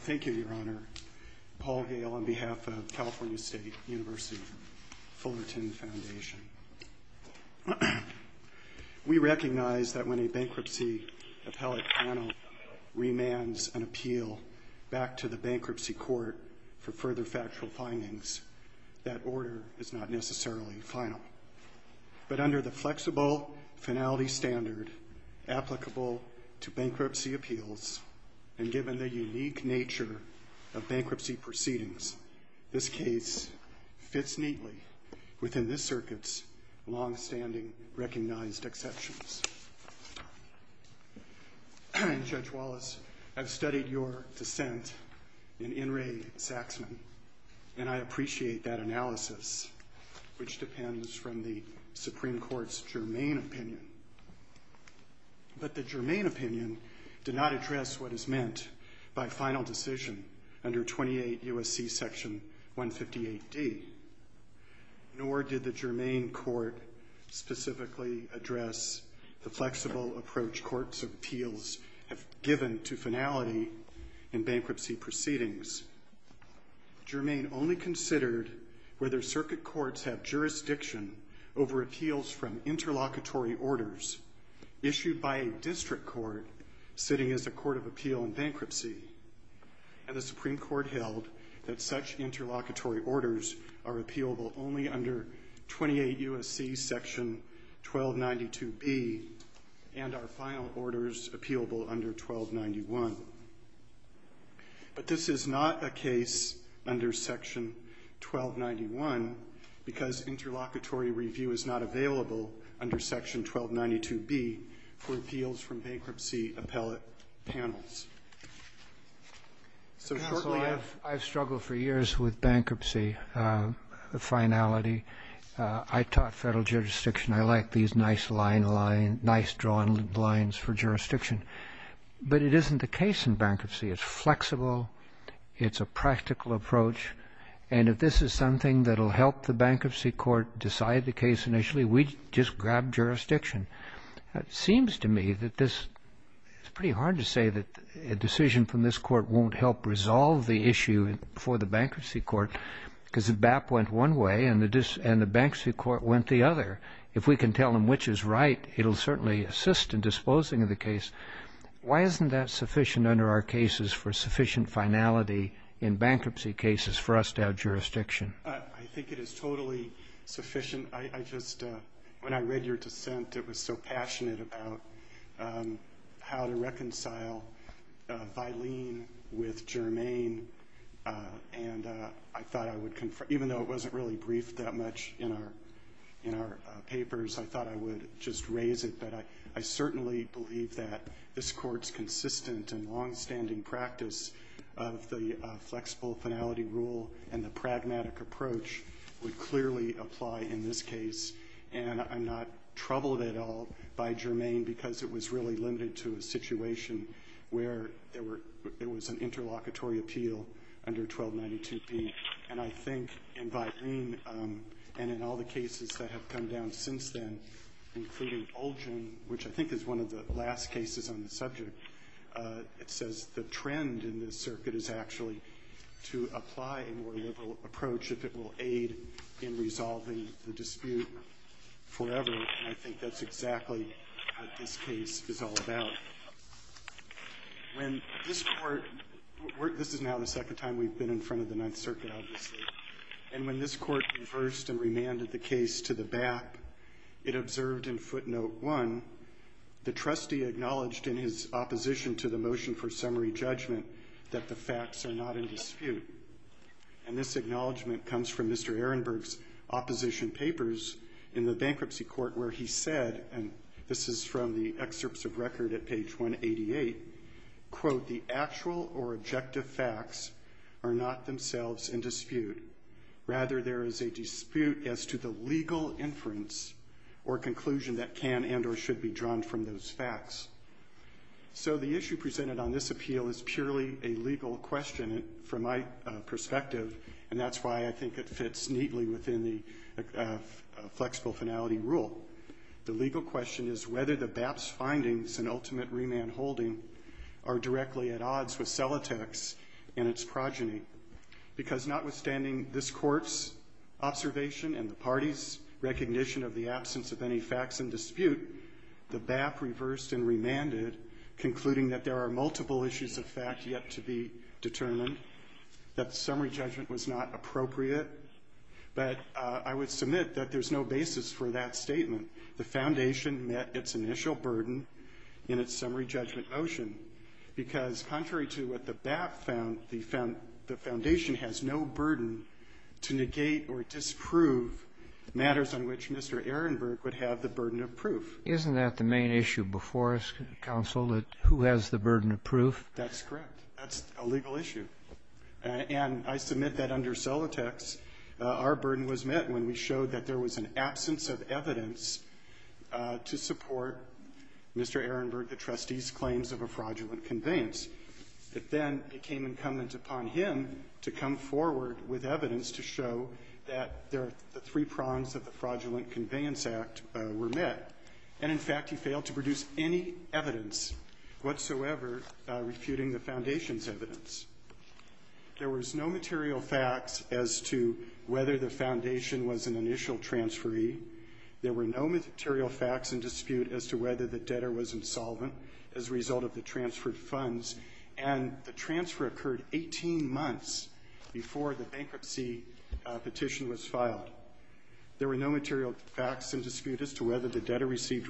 Thank you, Your Honor. Paul Gale on behalf of California State University Fullerton Foundation. We recognize that when a bankruptcy appellate panel remands an appeal back to the bankruptcy court for further factual findings, that order is not necessarily final. But under the flexible finality standard applicable to bankruptcy appeals, and given the unique nature of bankruptcy proceedings, this case fits neatly within this circuit's longstanding recognized exceptions. Judge Wallace, I've studied your dissent in In re Saxman, and I appreciate that analysis, which depends from the Supreme Court's germane opinion. But the germane opinion did not address what is meant by final decision under 28 U.S.C. Section 158D, nor did the germane court specifically address the flexible approach courts' appeals have given to finality in bankruptcy proceedings. Germane only considered whether circuit courts have jurisdiction over appeals from interlocutory orders issued by a district court sitting as a court of appeal in bankruptcy, and the Supreme Court held that such interlocutory orders are appealable only under 28 U.S.C. Section 1292B, and are final under Section 1291, because interlocutory review is not available under Section 1292B for appeals from bankruptcy appellate panels. So shortly, I've ---- Roberts, I've struggled for years with bankruptcy finality. I taught Federal jurisdiction. I like these nice line, nice drawn lines for jurisdiction. But it isn't the case in bankruptcy. It's flexible. It's a practical approach. And if this is something that will help the bankruptcy court decide the case initially, we just grab jurisdiction. It seems to me that this ---- It's pretty hard to say that a decision from this court won't help resolve the issue for the bankruptcy court, because the BAP went one way and the bankruptcy court went the other. If we can tell them which is right, it will certainly assist in disposing of the case. Why isn't that sufficient under our cases for sufficient finality in bankruptcy cases for us to have jurisdiction? I think it is totally sufficient. I just ---- When I read your dissent, it was so passionate about how to reconcile Vylene with Germain, and I thought I would confirm ---- Even though it wasn't really briefed that much in our papers, I thought I would just raise it. I certainly believe that this Court's consistent and longstanding practice of the flexible finality rule and the pragmatic approach would clearly apply in this case. And I'm not troubled at all by Germain, because it was really limited to a situation where there were ---- it was an interlocutory appeal under 1292B. And I think in Vylene and in all the cases that have come down since then, including Olgin, which I think is one of the last cases on the subject, it says the trend in this circuit is actually to apply a more liberal approach if it will aid in resolving the dispute forever. And I think that's exactly what this case is all about. When this Court ---- This is now the second time we've been in front of the Ninth Circuit, and I would like to quote one. The trustee acknowledged in his opposition to the motion for summary judgment that the facts are not in dispute. And this acknowledgment comes from Mr. Ehrenberg's opposition papers in the bankruptcy court where he said, and this is from the excerpts of record at page 188, quote, the actual or objective facts are not themselves in dispute. Rather, there is a dispute as to the legal inference or conclusion that can and or should be drawn from those facts. So the issue presented on this appeal is purely a legal question from my perspective, and that's why I think it fits neatly within the flexible finality rule. The legal question is whether the BAP's findings in ultimate remand holding are directly at odds with Celotek's in its progeny. Because notwithstanding this Court's observation and the party's recognition of the absence of any facts in dispute, the BAP reversed and remanded, concluding that there are multiple issues of fact yet to be determined, that summary judgment was not appropriate. But I would submit that there's no basis for that statement. The Foundation met its initial burden in its summary judgment motion, because contrary to what the BAP found, the Foundation has no burden to negate or disprove matters on which Mr. Ehrenberg would have the burden of proof. Isn't that the main issue before us, counsel, that who has the burden of proof? That's correct. That's a legal issue. And I submit that under Celotek's, our burden was met when we showed that there was an absence of evidence to support Mr. Ehrenberg, the trustee's claims of a fraudulent conveyance. It then became incumbent upon him to come forward with evidence to show that the three prongs of the fraudulent conveyance act were met. And, in fact, he failed to produce any evidence whatsoever refuting the Foundation's evidence. There was no material facts as to whether the Foundation was an initial transferee. There were no material facts in dispute as to whether the debtor was insolvent as a result of the transferred funds. And the transfer occurred 18 months before the bankruptcy petition was filed. There were no material facts in dispute as to whether the Foundation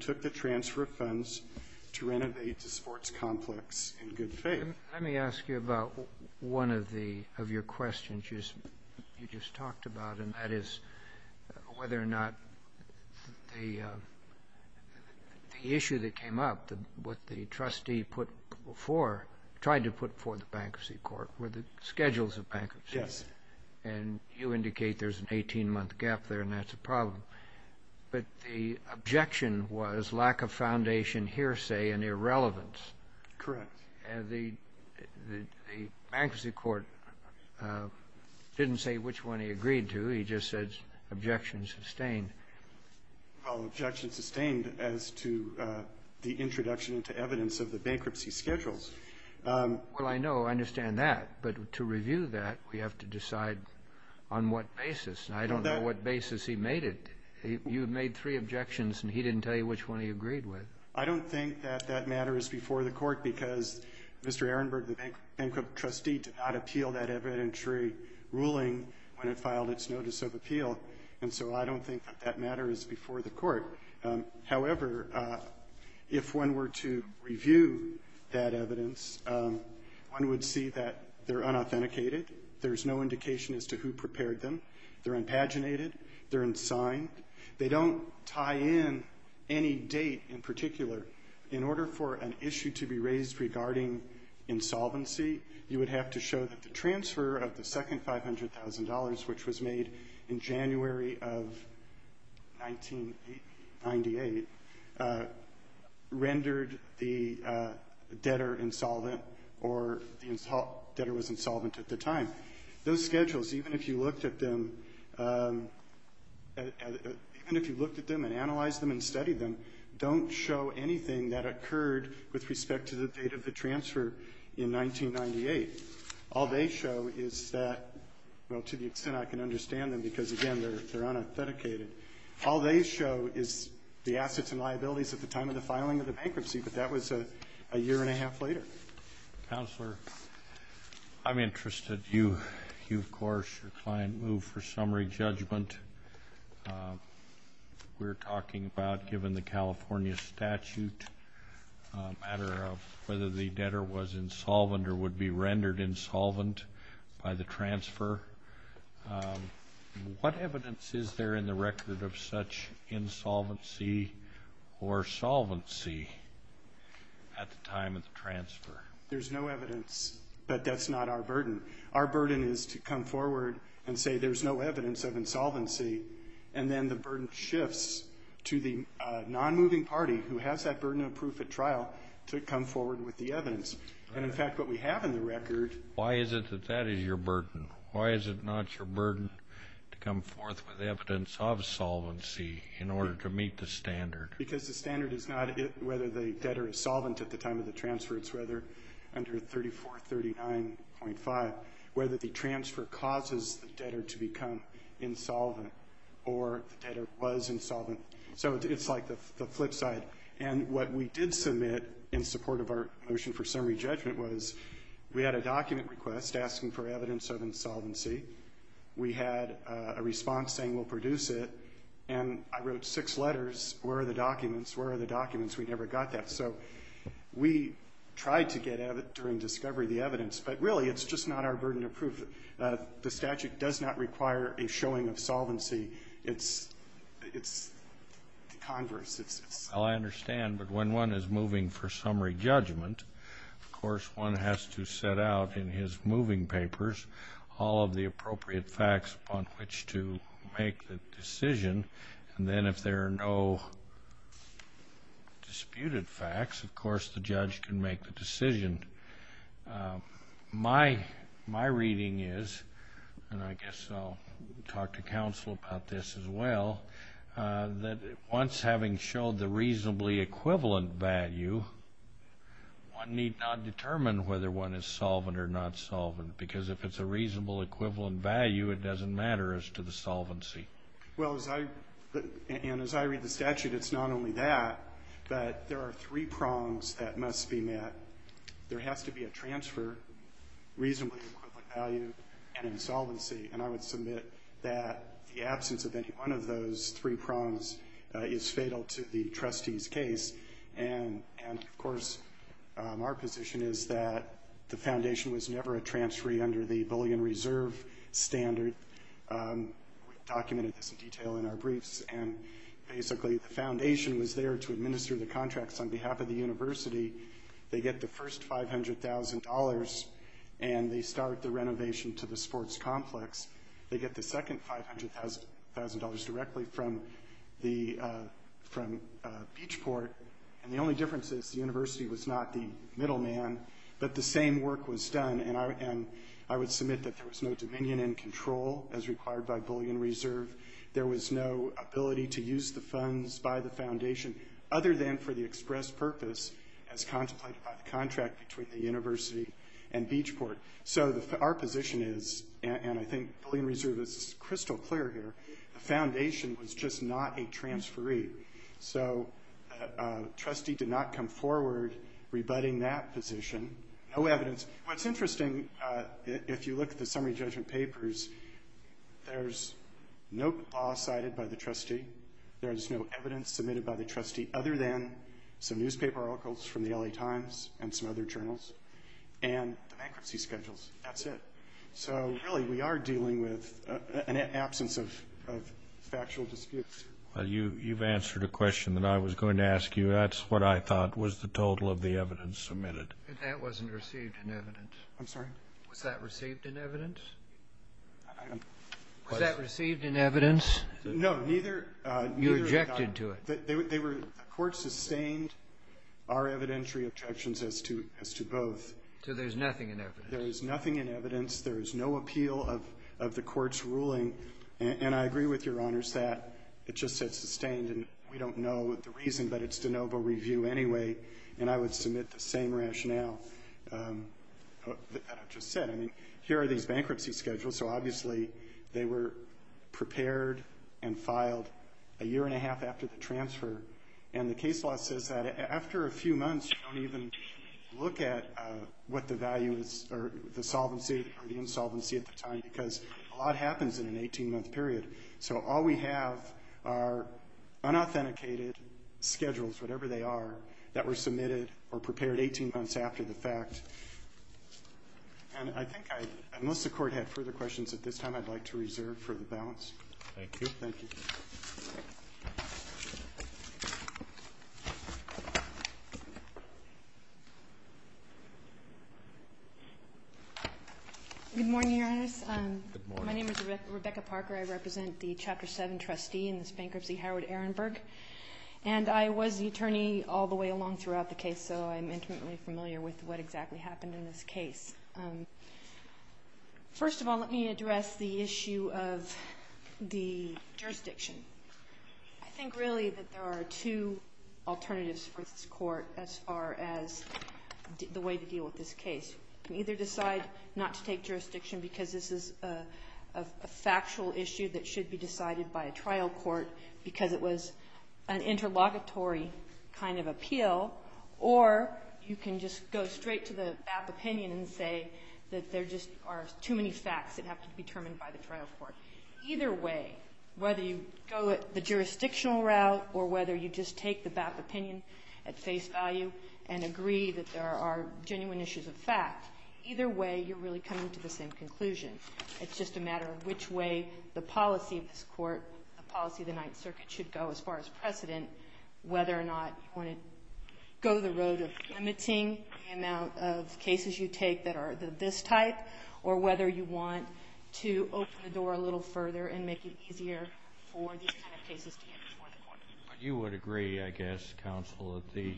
took the transfer of funds to renovate the sports complex in good faith. Let me ask you about one of your questions you just talked about, and that is whether or not the issue that came up, what the trustee put before, tried to put before the bankruptcy court, were the schedules of the bankruptcy. That's a problem. But the objection was lack of Foundation hearsay and irrelevance. Correct. And the bankruptcy court didn't say which one he agreed to. He just said objections sustained. Objection sustained as to the introduction into evidence of the bankruptcy schedules. Well, I know. I understand that. But to me, you've made it. You've made three objections, and he didn't tell you which one he agreed with. I don't think that that matter is before the court because Mr. Ehrenberg, the bankrupt trustee, did not appeal that evidentiary ruling when it filed its notice of appeal. And so I don't think that that matter is before the court. However, if one were to review that evidence, one would see that they're unauthenticated. There's no indication as to who prepared them. They're unpaginated. They're unsigned. They don't tie in any date in particular. In order for an issue to be raised regarding insolvency, you would have to show that the transfer of the second $500,000, which was made in January of 1998, rendered the debtor insolvent or the debtor was insolvent at the time. Those schedules, even if you looked at them and analyzed them and studied them, don't show anything that occurred with respect to the date of the transfer in 1998. All they show is that, well, to the extent that the debtor was insolvent, the debtor was insolvent. All they show is the assets and liabilities at the time of the filing of the bankruptcy, but that was a year and a half later. Counselor, I'm interested. You, of course, declined move for summary judgment. We're talking about, given the California statute, a matter of whether the debtor was insolvent or would be charged insolvency or solvency at the time of the transfer. There's no evidence, but that's not our burden. Our burden is to come forward and say there's no evidence of insolvency, and then the burden shifts to the nonmoving party, who has that burden of proof at trial, to come forward with the evidence. And in fact, what we have in the record... Why is it that that is your burden? Why is it insolvency in order to meet the standard? Because the standard is not whether the debtor is solvent at the time of the transfer. It's whether, under 3439.5, whether the transfer causes the debtor to become insolvent or the debtor was insolvent. So it's like the flip side. And what we did submit in support of our motion for summary judgment was we had a document request asking for evidence of insolvency. We had a response saying we'll produce it. And I wrote six letters. Where are the documents? Where are the documents? We never got that. So we tried to get during discovery the evidence, but really it's just not our burden of proof. The statute does not require a showing of solvency. It's converse. It's... all of the appropriate facts upon which to make the decision. And then if there are no disputed facts, of course the judge can make the decision. My reading is, and I guess I'll talk to counsel about this as well, that once having showed the reasonably equivalent value, one need not determine whether one is solvent or not solvent. Because if it's a reasonable equivalent value, it doesn't matter as to the solvency. Well, as I read the statute, it's not only that, but there are three prongs that must be met. There has to be a transfer, reasonably equivalent value, and insolvency. And I would submit that the absence of any one of those three prongs is fatal to the trustee's case. And of course, our position is that the foundation was never a transferee under the Bullion Reserve standard. We documented this in detail in our briefs. And basically the foundation was there to administer the contracts on behalf of the university. They get the first $500,000 and they start the renovation to the sports complex. They get the second $500,000 directly from Beachport. And the only difference is the university was not the middleman, but the same work was done. And I would submit that there was no dominion and control as required by Bullion Reserve. There was no ability to use the funds by the foundation other than for the express purpose as contemplated by the Bullion Reserve. This is crystal clear here. The foundation was just not a transferee. So a trustee did not come forward rebutting that position. No evidence. What's interesting, if you look at the summary judgment papers, there's no law cited by the trustee. There is no evidence submitted by the trustee other than some newspaper articles from the LA Times and some other journals and the bankruptcy schedules. That's it. So really, we are dealing with an absence of factual disputes. Well, you've answered a question that I was going to ask you. That's what I thought was the total of the evidence submitted. That wasn't received in evidence. I'm sorry? Was that received in evidence? Was that received in evidence? No, neither. You rejected to it. The court sustained our evidentiary objections as to both. So there's nothing in evidence? There is nothing in evidence. There is no appeal of the court's ruling. And I agree with Your Honors that it just says sustained, and we don't know the reason, but it's de novo review anyway. And I would submit the same rationale that I've just said. I mean, here are these bankruptcy schedules. So obviously, they were prepared and filed a year and a half after the transfer. And the case law says that after a few months, you don't even look at what the value is or the solvency or the insolvency at the time, because a lot happens in an 18-month period. So all we have are unauthenticated schedules, whatever they are, that were submitted or prepared 18 months after the fact. And I think I, unless the court had further questions at this time, I'd like to reserve for the balance. Thank you. Thank you. Good morning, Your Honors. Good morning. My name is Rebecca Parker. I represent the Chapter 7 trustee in this bankruptcy, Howard Ehrenberg. And I was the one who was recently familiar with what exactly happened in this case. First of all, let me address the issue of the jurisdiction. I think, really, that there are two alternatives for this Court as far as the way to deal with this case. You can either decide not to take jurisdiction because this is a factual issue that should be decided by a trial court because it was an interlocutory kind of appeal, or you can just go straight to the BAP opinion and say that there just are too many facts that have to be determined by the trial court. Either way, whether you go the jurisdictional route or whether you just take the BAP opinion at face value and agree that there are genuine issues of fact, either way, you're really coming to the same conclusion. It's just a matter of which way the policy of this Court, the policy of the Ninth Circuit should go as far as precedent, whether or not you want to go the road of limiting the amount of cases you take that are this type or whether you want to open the door a little further and make it easier for these kind of cases to get before the Court. But you would agree, I guess, counsel, that the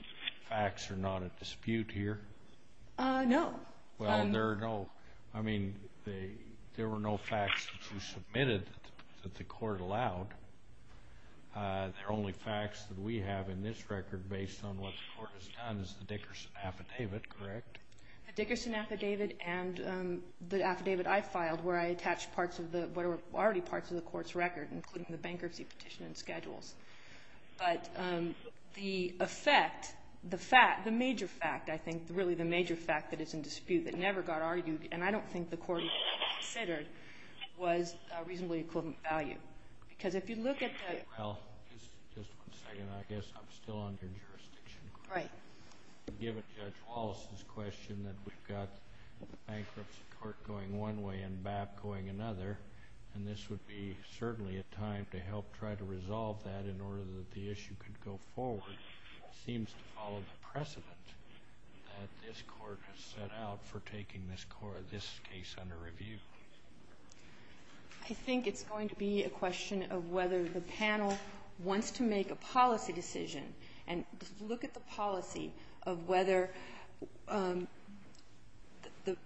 facts are not at dispute here? No. There were no facts that you submitted that the Court allowed. The only facts that we have in this record based on what the Court has done is the Dickerson affidavit, correct? The Dickerson affidavit and the affidavit I filed where I attached parts of what were already parts of the Court's record, including the bankruptcy petition and schedules. But the effect, the fact, the major fact, I think, really the major fact that is in dispute that never got argued and I don't think the Court considered was reasonably equivalent value. Because if you look at the... Well, just one second. I guess I'm still under jurisdiction. Right. Given Judge Wallace's question that we've got the bankruptcy court going one way and BAP going another, and this would be certainly a time to help try to resolve that in order that the issue could go forward, it seems to follow the precedent that this Court has set out for taking this case under review. I think it's going to be a question of whether the panel wants to make a policy decision and look at the policy of whether the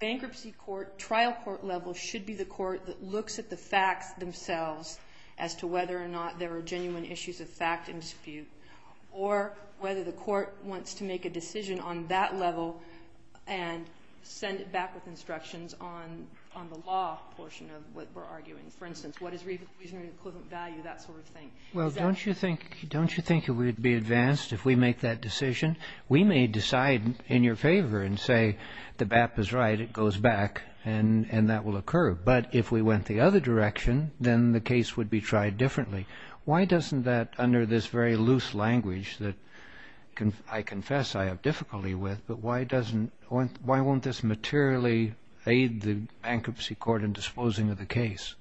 bankruptcy court, trial court level, should be the court that looks at the facts themselves as to whether or not there are genuine issues of fact in dispute, or whether the court wants to make a decision on that level and send it back with instructions on the law portion of what we're arguing. For instance, what is reasonably equivalent value, that sort of thing. Well, don't you think, don't you think it would be advanced if we make that decision? We may decide in your favor and say the BAP is right, it goes back, and that will occur. But if we went the other direction, then the case would be tried differently. Why doesn't that, under this very loose language that I confess I have difficulty with, but why doesn't, why won't this materially aid the bankruptcy court in disposing of the case?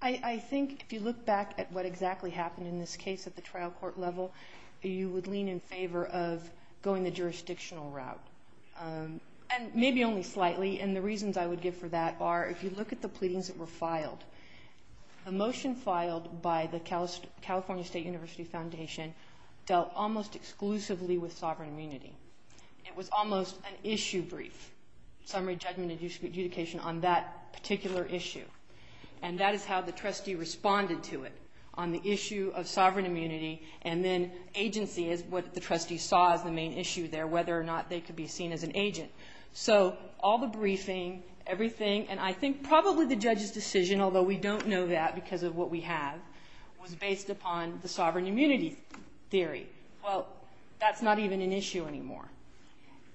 I think if you look back at what exactly happened in this case at the trial court level, you would lean in favor of going the jurisdictional route, and maybe only slightly. And the reasons I would give for that are if you look at the pleadings that were filed, a motion filed by the California State University Foundation dealt almost exclusively with sovereign immunity. It was almost an issue brief, summary judgment adjudication on that particular issue. And that is how the trustee responded to it, on the issue of sovereign immunity, and then agency is what the trustee saw as the main issue there, whether or not they could be seen as an agent. So all the briefing, everything, and I think probably the judge's decision, although we don't know that because of what we have, was based upon the sovereign immunity theory. Well, that's not even an issue anymore.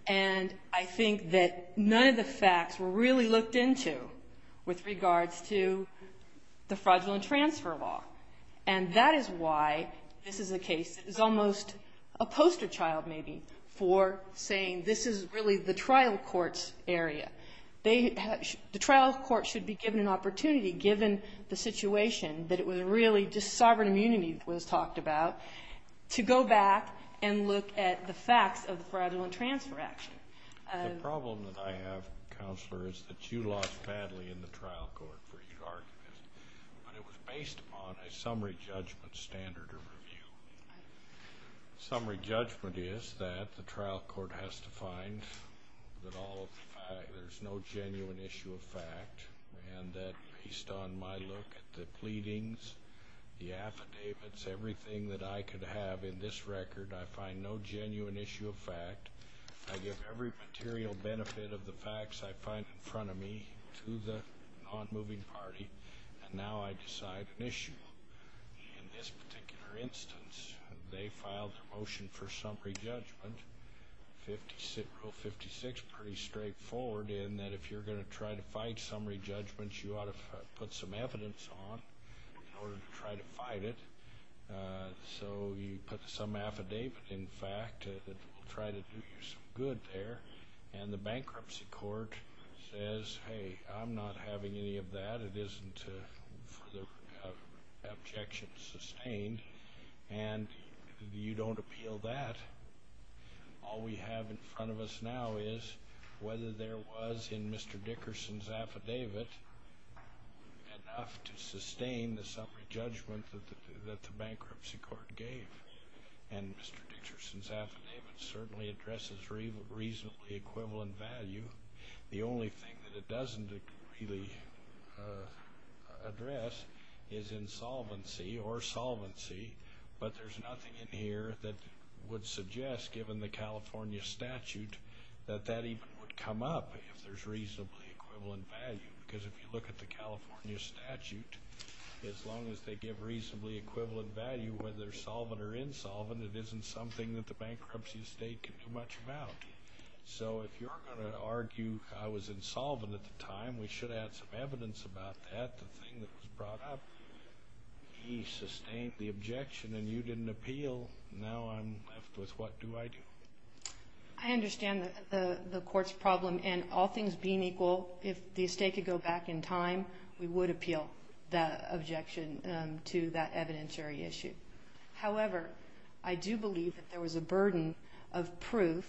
And I think that none of the facts were really looked into with regards to the fraudulent transfer law. And that is why this is a case that is almost a poster child, maybe, for saying this is really the trial court's area. The trial court should be given an opportunity, given the situation, that it was really just sovereign immunity that was talked about, to go back and look at the facts of the fraudulent transfer action. The problem that I have, Counselor, is that you lost badly in the trial court for your argument, but it was based upon a summary judgment standard of review. Summary judgment is that the trial court has to find that there's no genuine issue of fact, and that based on my look at the pleadings, the affidavits, everything that I could have in this record, I find no genuine issue of fact. I give every material benefit of the facts I find in front of me to the non-moving party, and now I decide an issue. In this particular instance, they filed a motion for summary judgment, Rule 56, pretty straightforward in that if you're going to try to fight summary judgments, you ought to put some evidence on in order to try to fight it. So you put some affidavit, in fact, that will try to do you some good there, and the bankruptcy court says, hey, I'm not having any of that. It isn't for the objection sustained, and you don't appeal that. All we have in front of us now is whether there was in Mr. Dickerson's affidavit enough to sustain the summary judgment that the bankruptcy court gave, and Mr. Dickerson's affidavit certainly addresses reasonably equivalent value. The only thing that it doesn't really address is insolvency or solvency, but there's nothing in here that would suggest, given the California statute, that that even would come up if there's reasonably equivalent value, because if you look at the California statute, as long as they give reasonably equivalent value whether they're solvent or insolvent, it isn't something that the bankruptcy estate can do much about. So if you're going to argue I was insolvent at the time, we should add some evidence about that, the thing that was brought up. He sustained the objection and you didn't appeal. Now I'm left with what do I do? I understand the court's problem, and all things being equal, if the estate could go back in time, we would appeal the objection to that evidentiary issue. However, I do believe that there was a burden of proof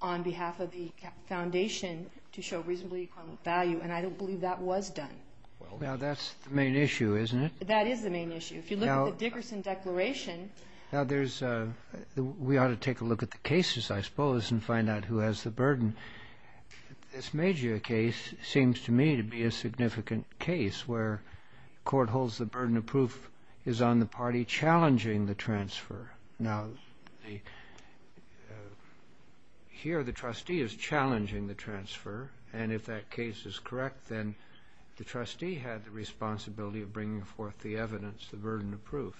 on behalf of the foundation to show reasonably equivalent value, and I don't believe that was done. Well, now that's the main issue, isn't it? That is the main issue. If you look at the Dickerson declaration — Now there's — we ought to take a look at the cases, I suppose, and find out who has the burden. This Magia case seems to me to be a significant case where the court holds the burden of proof is on the party challenging the transfer. Now, here the trustee is challenging the transfer, and if that case is correct then the trustee had the responsibility of bringing forth the evidence, the burden of proof.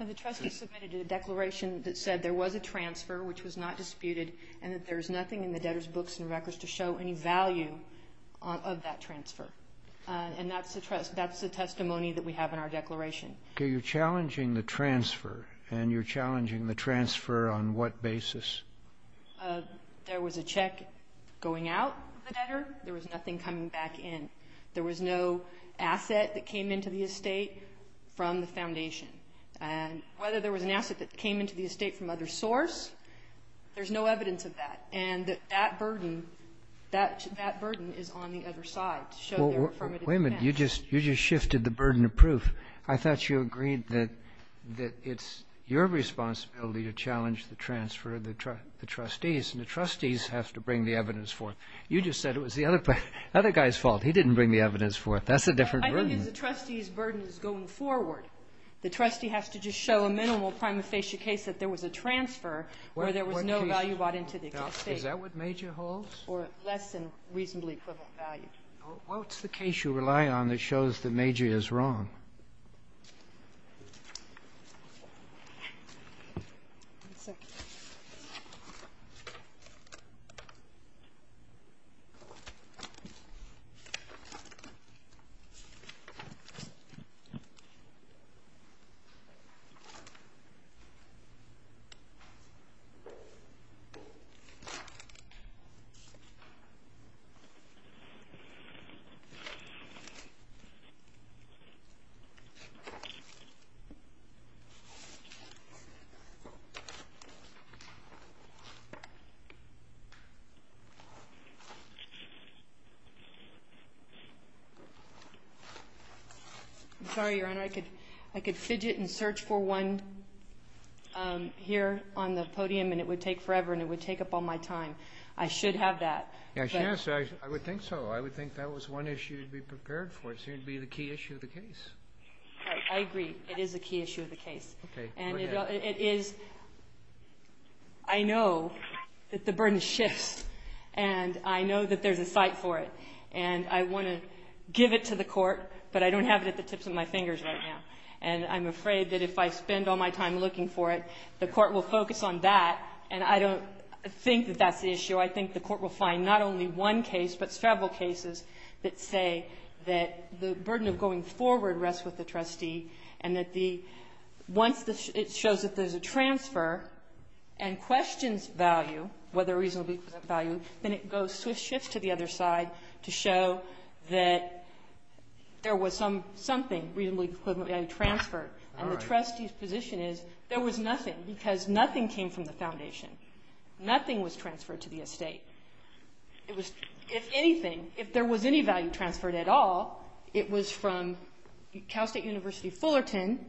The trustee submitted a declaration that said there was a transfer which was not disputed and that there's nothing in the debtor's books and records to show any value of that transfer. And that's the testimony that we have in our declaration. Okay. You're challenging the transfer, and you're challenging the transfer on what basis? There was a check going out of the debtor. There was nothing coming back in. There was no asset that came into the estate from the foundation. And whether there was an asset that came into the estate from other source, there's no evidence of that. And that burden is on the other side to show their affirmative defense. Wait a minute. You just shifted the burden of proof. I thought you agreed that it's your responsibility to challenge the transfer of the trustees, and the trustees have to bring the evidence forth. You just said it was the other guy's fault. He didn't bring the evidence forth. That's a different burden. I think it's the trustee's burden that's going forward. The trustee has to just show a minimal prima facie case that there was a transfer where there was no value brought into the estate. Is that what MAJOR holds? Or less than reasonably equivalent value. What's the case you rely on that shows that MAJOR is wrong? I'm sorry, Your Honor. I could fidget and search for one here on the podium and it would take forever and it would take up all my time. I should have that. Yes, you should. I would think so. I would think that was one issue to be prepared for. It seemed to be the key issue of the case. I agree. It is a key issue of the case. Okay. Go ahead. I know that the burden shifts, and I know that there's a site for it, and I want to give it to the court, but I don't have it at the tips of my fingers right now. And I'm afraid that if I spend all my time looking for it, the court will focus on that, and I don't think that that's the issue. I think the court will find not only one case but several cases that say that the burden of going forward rests with the trustee and that once it shows that there's a transfer and questions value, whether reasonably equivalent value, then it goes to a shift to the other side to show that there was something reasonably equivalent value transferred. All right. And the trustee's position is there was nothing because nothing came from the foundation. Nothing was transferred to the estate. It was, if anything, if there was any value transferred at all, it was from Cal State University Fullerton,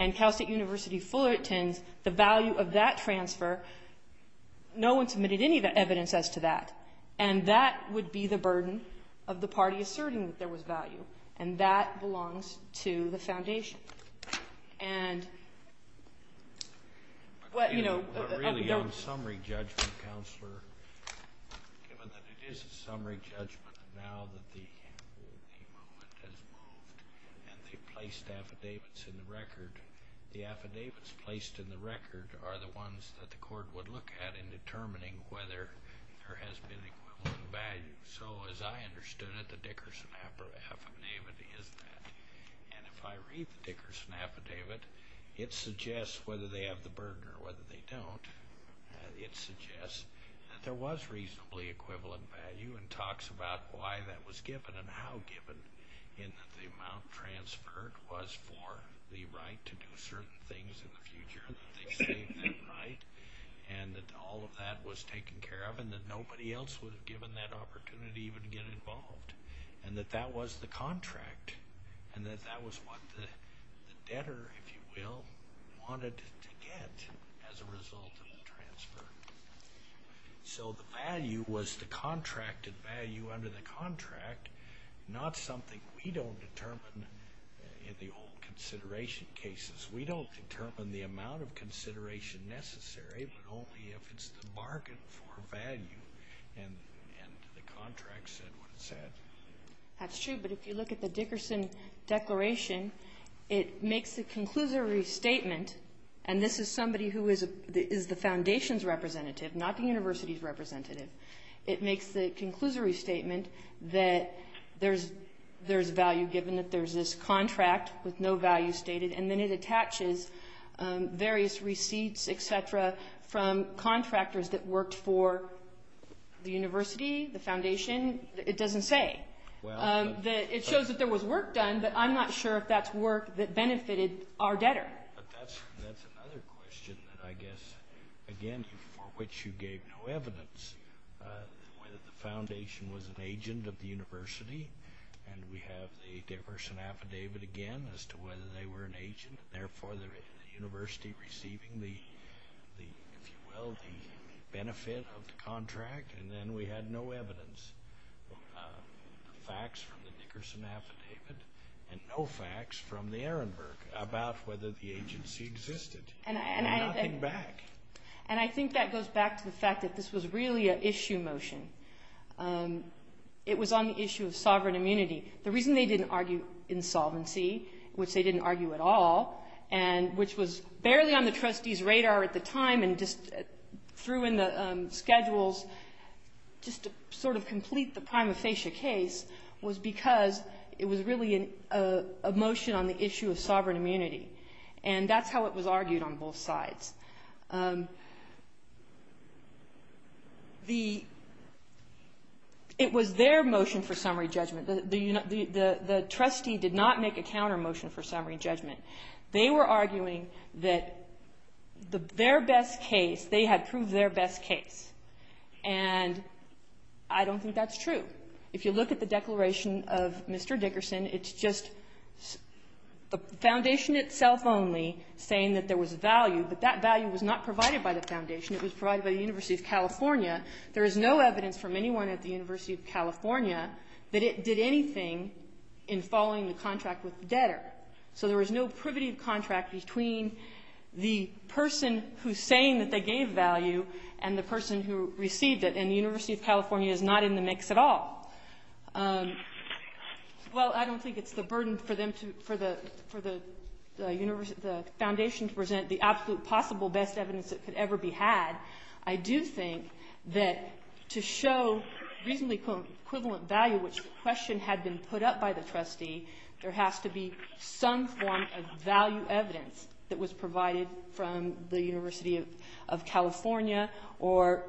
and Cal State University Fullerton's, the value of that transfer, no one submitted any evidence as to that, and that would be the burden of the party asserting that there was value, and that belongs to the foundation. And what, you know. But really on summary judgment, Counselor, given that it is a summary judgment now that the movement has moved and they've placed affidavits in the record, the affidavits placed in the record are the ones that the court would look at in determining whether there has been equivalent value. So as I understood it, the Dickerson affidavit is that. And if I read the Dickerson affidavit, it suggests whether they have the burden or whether they don't. It suggests that there was reasonably equivalent value and talks about why that was given and how given, in that the amount transferred was for the right to do certain things in the future, that they saved that right, and that all of that was taken care of, and that nobody else would have given that opportunity even to get involved, and that that was the contract and that that was what the debtor, if you will, wanted to get as a result of the transfer. So the value was the contracted value under the contract, not something we don't determine in the old consideration cases. We don't determine the amount of consideration necessary, but only if it's the bargain for value. And the contract said what it said. That's true, but if you look at the Dickerson declaration, it makes the conclusory statement, and this is somebody who is the foundation's representative, not the university's representative. It makes the conclusory statement that there's value given, that there's this contract with no value stated, and then it attaches various receipts, et cetera, from contractors that worked for the university, the foundation. It doesn't say. It shows that there was work done, but I'm not sure if that's work that benefited our debtor. But that's another question that I guess, again, for which you gave no evidence, whether the foundation was an agent of the university, and we have the Dickerson affidavit again as to whether they were an agent, and therefore the university receiving the, if you will, the benefit of the contract, and then we had no evidence, facts from the Dickerson affidavit and no facts from the Ehrenberg about whether the agency existed. Nothing back. And I think that goes back to the fact that this was really an issue motion. It was on the issue of sovereign immunity. The reason they didn't argue insolvency, which they didn't argue at all, and which was barely on the trustees' radar at the time and just threw in the schedules just to sort of complete the prima facie case, was because it was really a motion on the issue of sovereign immunity, and that's how it was argued on both sides. It was their motion for summary judgment. The trustee did not make a counter motion for summary judgment. They were arguing that their best case, they had proved their best case, and I don't think that's true. If you look at the declaration of Mr. Dickerson, it's just the foundation itself only saying that there was value, but that value was not provided by the foundation. It was provided by the University of California. There is no evidence from anyone at the University of California that it did anything in following the contract with the debtor. So there was no privative contract between the person who's saying that they gave value and the person who received it, and the University of California is not in the mix at all. Well, I don't think it's the burden for the foundation to present the absolute possible best evidence that could ever be had. I do think that to show reasonably equivalent value, which the question had been put up by the trustee, there has to be some form of value evidence that was provided from the University of California or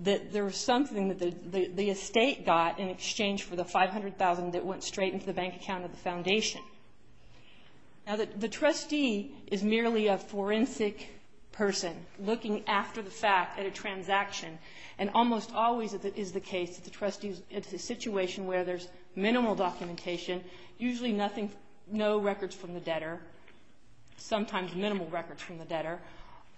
that there was something that the estate got in exchange for the $500,000 that went straight into the bank account of the foundation. Now, the trustee is merely a forensic person looking after the fact at a transaction, and almost always it is the case that the trustees, it's a situation where there's minimal documentation, usually no records from the debtor, sometimes minimal records from the debtor.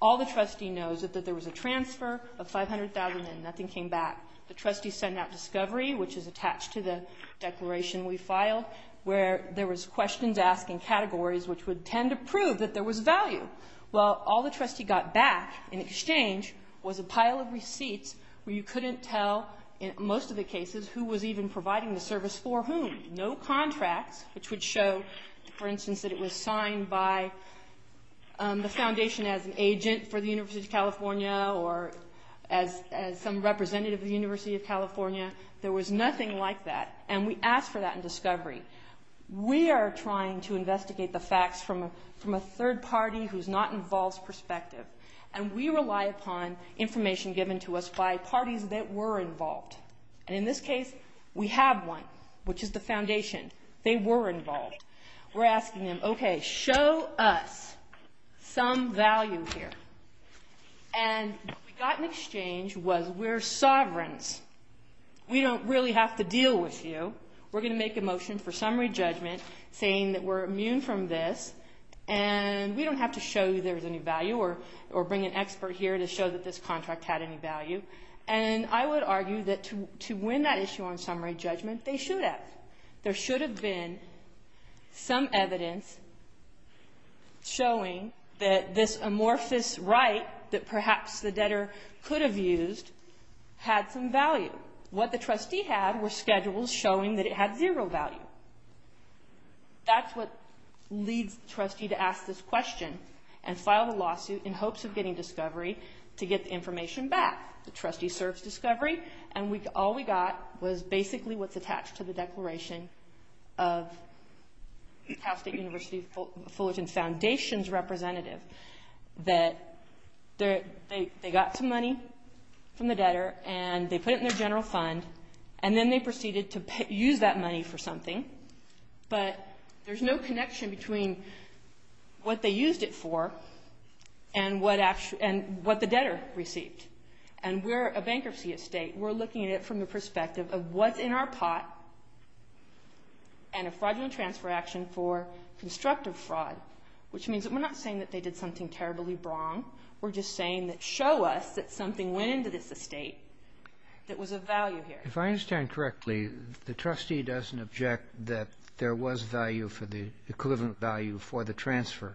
All the trustee knows is that there was a transfer of $500,000 and nothing came back. The trustee sent out discovery, which is attached to the declaration we filed, where there was questions asked in categories which would tend to prove that there was value. Well, all the trustee got back in exchange was a pile of receipts where you couldn't tell, in most of the cases, who was even providing the service for whom. No contracts, which would show, for instance, that it was signed by the foundation as an agent for the University of California or as some representative of the University of California. There was nothing like that, and we asked for that in discovery. We are trying to investigate the facts from a third party who's not involved's perspective, and we rely upon information given to us by parties that were involved. And in this case, we have one, which is the foundation. They were involved. We're asking them, okay, show us some value here. And what we got in exchange was we're sovereigns. We don't really have to deal with you. We're going to make a motion for summary judgment saying that we're immune from this, and we don't have to show you there's any value or bring an expert here to show that this contract had any value. And I would argue that to win that issue on summary judgment, they should have. There should have been some evidence showing that this amorphous right that perhaps the debtor could have used had some value. What the trustee had were schedules showing that it had zero value. That's what leads the trustee to ask this question and file the lawsuit in hopes of getting discovery to get the information back. The trustee serves discovery, and all we got was basically what's attached to the declaration of Cal State University Fullerton Foundation's representative, that they got some money from the debtor, and they put it in their general fund, and then they proceeded to use that money for something. But there's no connection between what they used it for and what the debtor received. And we're a bankruptcy estate. We're looking at it from the perspective of what's in our pot and a fraudulent transfer action for constructive fraud, which means that we're not saying that they did something terribly wrong. We're just saying that show us that something went into this estate that was of value here. If I understand correctly, the trustee doesn't object that there was value for the equivalent value for the transfer.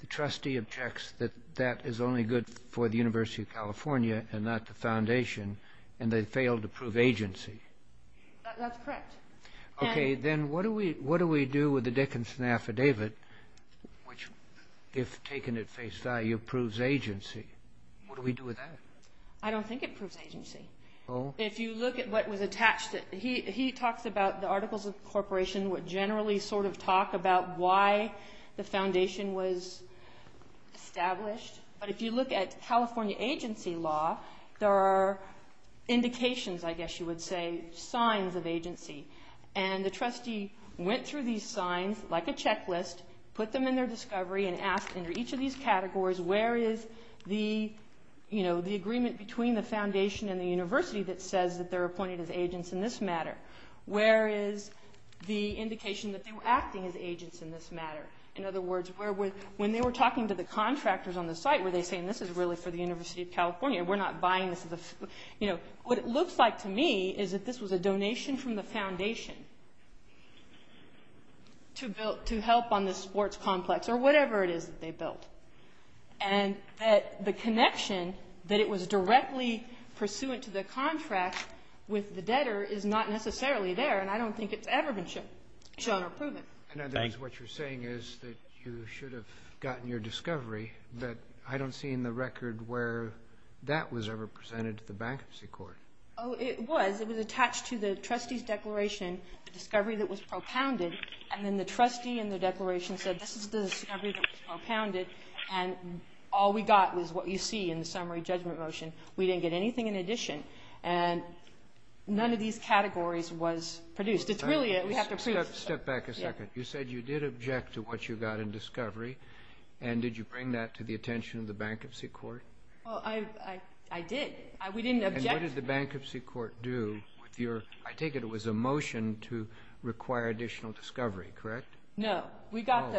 The trustee objects that that is only good for the University of California and not the foundation, and they failed to prove agency. That's correct. Okay. Then what do we do with the Dickinson Affidavit, which, if taken at face value, proves agency? What do we do with that? I don't think it proves agency. If you look at what was attached to it, he talks about the Articles of Incorporation would generally sort of talk about why the foundation was established. But if you look at California agency law, there are indications, I guess you would say, signs of agency. And the trustee went through these signs like a checklist, put them in their discovery, and asked under each of these categories, where is the agreement between the foundation and the university that says that they're appointed as agents in this matter? Where is the indication that they were acting as agents in this matter? In other words, when they were talking to the contractors on the site, were they saying, this is really for the University of California, we're not buying this? What it looks like to me is that this was a donation from the foundation to help on this sports complex, or whatever it is that they built. And the connection that it was directly pursuant to the contract with the debtor is not necessarily there, and I don't think it's ever been shown or proven. In other words, what you're saying is that you should have gotten your discovery, but I don't see in the record where that was ever presented to the Bankruptcy Court. Oh, it was. It was attached to the trustee's declaration, the discovery that was propounded, and then the trustee in the declaration said, this is the discovery that was propounded, and all we got was what you see in the summary judgment motion. We didn't get anything in addition. And none of these categories was produced. It's really a we have to prove. Step back a second. You said you did object to what you got in discovery, and did you bring that to the attention of the Bankruptcy Court? I did. We didn't object. And what did the Bankruptcy Court do? I take it it was a motion to require additional discovery, correct? No. We got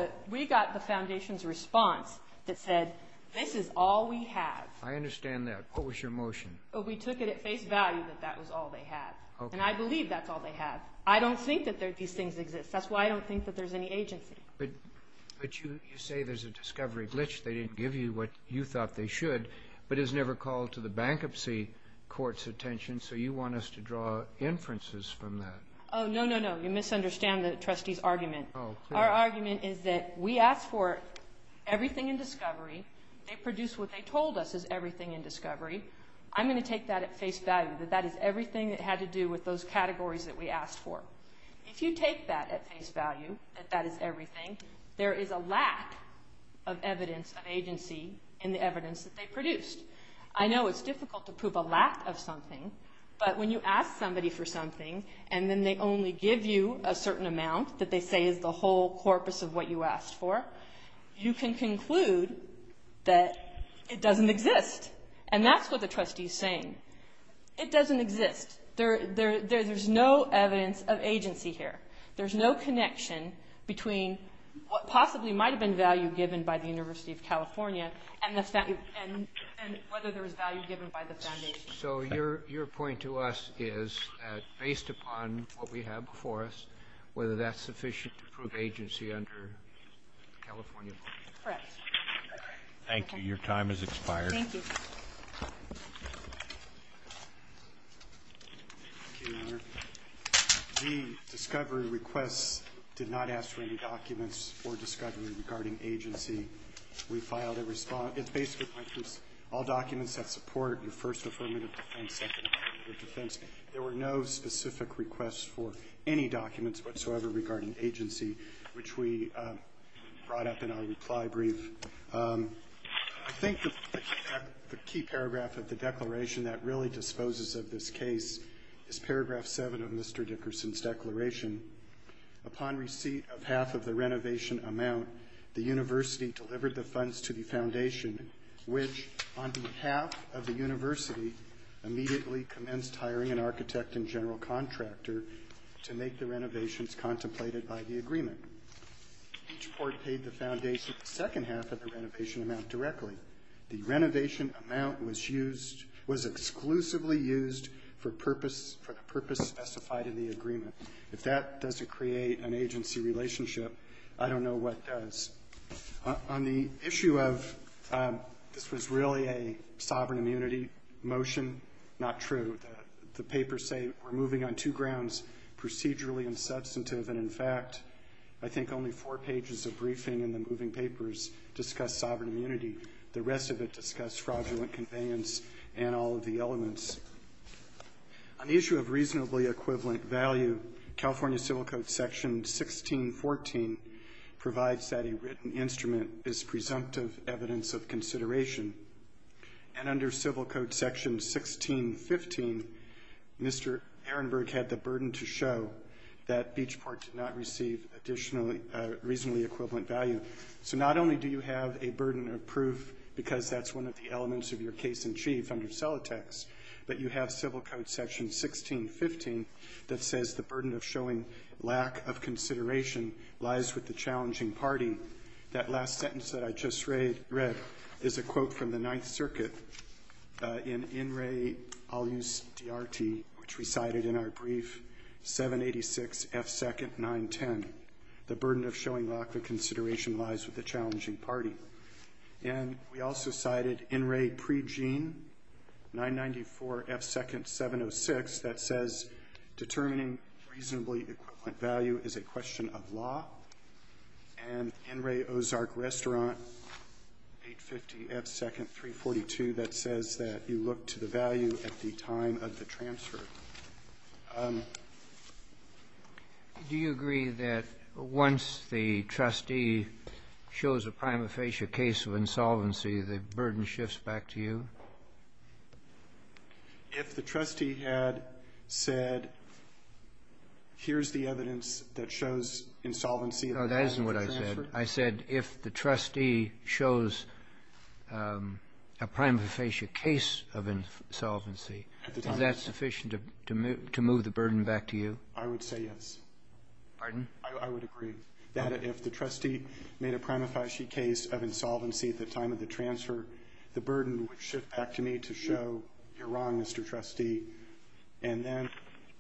the Foundation's response that said, this is all we have. I understand that. What was your motion? We took it at face value that that was all they had, and I believe that's all they have. I don't think that these things exist. That's why I don't think that there's any agency. But you say there's a discovery glitch. They didn't give you what you thought they should, but it was never called to the Bankruptcy Court's attention, so you want us to draw inferences from that. Oh, no, no, no. You misunderstand the trustee's argument. Our argument is that we asked for everything in discovery. They produced what they told us is everything in discovery. I'm going to take that at face value, that that is everything that had to do with those categories that we asked for. If you take that at face value, that that is everything, there is a lack of evidence of agency in the evidence that they produced. I know it's difficult to prove a lack of something, but when you ask somebody for something and then they only give you a certain amount that they say is the whole corpus of what you asked for, you can conclude that it doesn't exist. And that's what the trustee's saying. It doesn't exist. There's no evidence of agency here. There's no connection between what possibly might have been value given by the University of California and whether there was value given by the foundation. So your point to us is that based upon what we have before us, whether that's sufficient to prove agency under California law. Correct. Thank you. Your time has expired. Thank you. Thank you, Your Honor. The discovery requests did not ask for any documents or discovery regarding agency. We filed a response. It's basically all documents that support your first affirmative defense, second affirmative defense. There were no specific requests for any documents whatsoever regarding agency, which we brought up in our reply brief. I think the key paragraph of the declaration that really disposes of this case is paragraph 7 of Mr. Dickerson's declaration. Upon receipt of half of the renovation amount, the university delivered the funds to the foundation, which on behalf of the university, immediately commenced hiring an architect and general contractor to make the renovations contemplated by the agreement. Each board paid the foundation the second half of the renovation amount directly. The renovation amount was exclusively used for the purpose specified in the agreement. If that doesn't create an agency relationship, I don't know what does. On the issue of this was really a sovereign immunity motion, not true. The papers say we're moving on two grounds, procedurally and substantive, and, in fact, I think only four pages of briefing in the moving papers discuss sovereign immunity. The rest of it discuss fraudulent conveyance and all of the elements. On the issue of reasonably equivalent value, California Civil Code Section 1614 provides that a written instrument is presumptive evidence of consideration, and under Civil Code Section 1615, Mr. Ehrenberg had the burden to show that Beachport did not receive reasonably equivalent value. So not only do you have a burden of proof because that's one of the elements of your case-in-chief under Celotex, but you have Civil Code Section 1615 that says the burden of showing lack of consideration lies with the challenging party. That last sentence that I just read is a quote from the Ninth Circuit. In In Re, I'll use DRT, which we cited in our brief, 786F2-910, the burden of showing lack of consideration lies with the challenging party. And we also cited In Re pre-Gene, 994F2-706, that says determining reasonably equivalent value is a question of law. And In Re Ozark Restaurant, 850F2-342, that says that you look to the value at the time of the transfer. Do you agree that once the trustee shows a prima facie case of insolvency, the burden shifts back to you? If the trustee had said, here's the evidence that shows insolvency at the time of the transfer? No, that isn't what I said. I said if the trustee shows a prima facie case of insolvency, is that sufficient to move the burden back to you? I would say yes. Pardon? I would agree that if the trustee made a prima facie case of insolvency at the time of the transfer, the burden would shift back to me to show you're wrong, Mr. Trustee. And then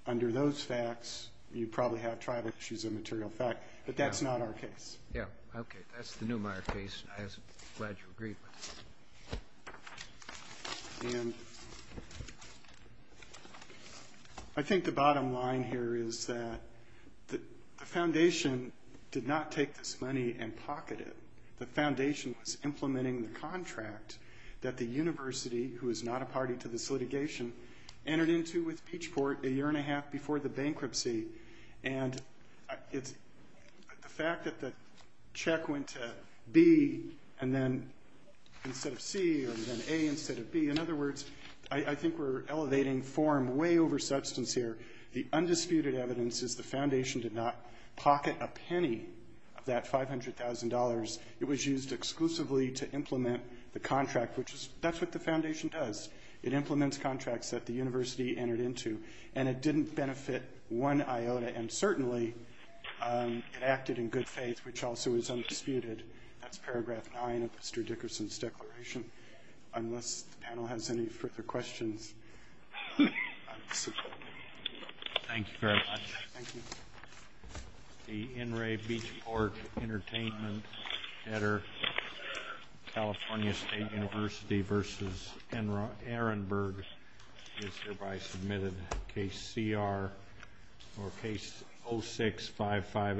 under those facts, you probably have tribal issues of material effect. But that's not our case. Yeah, okay. That's the Neumeier case. I'm glad you agreed with that. And I think the bottom line here is that the foundation did not take this money and pocket it. The foundation was implementing the contract that the university, who is not a party to this litigation, entered into with Peachport a year and a half before the bankruptcy. And the fact that the check went to B and then instead of C or then A instead of B, in other words, I think we're elevating form way over substance here. The undisputed evidence is the foundation did not pocket a penny of that $500,000. It was used exclusively to implement the contract, which that's what the foundation does. It implements contracts that the university entered into, and it didn't benefit one iota, and certainly it acted in good faith, which also is undisputed. That's paragraph 9 of Mr. Dickerson's declaration. Unless the panel has any further questions, I'm dismissed. Thank you very much. Thank you. The N. Ray Beachport Entertainment-Edder California State University v. Aaronburg is hereby submitted case CR or case 06558.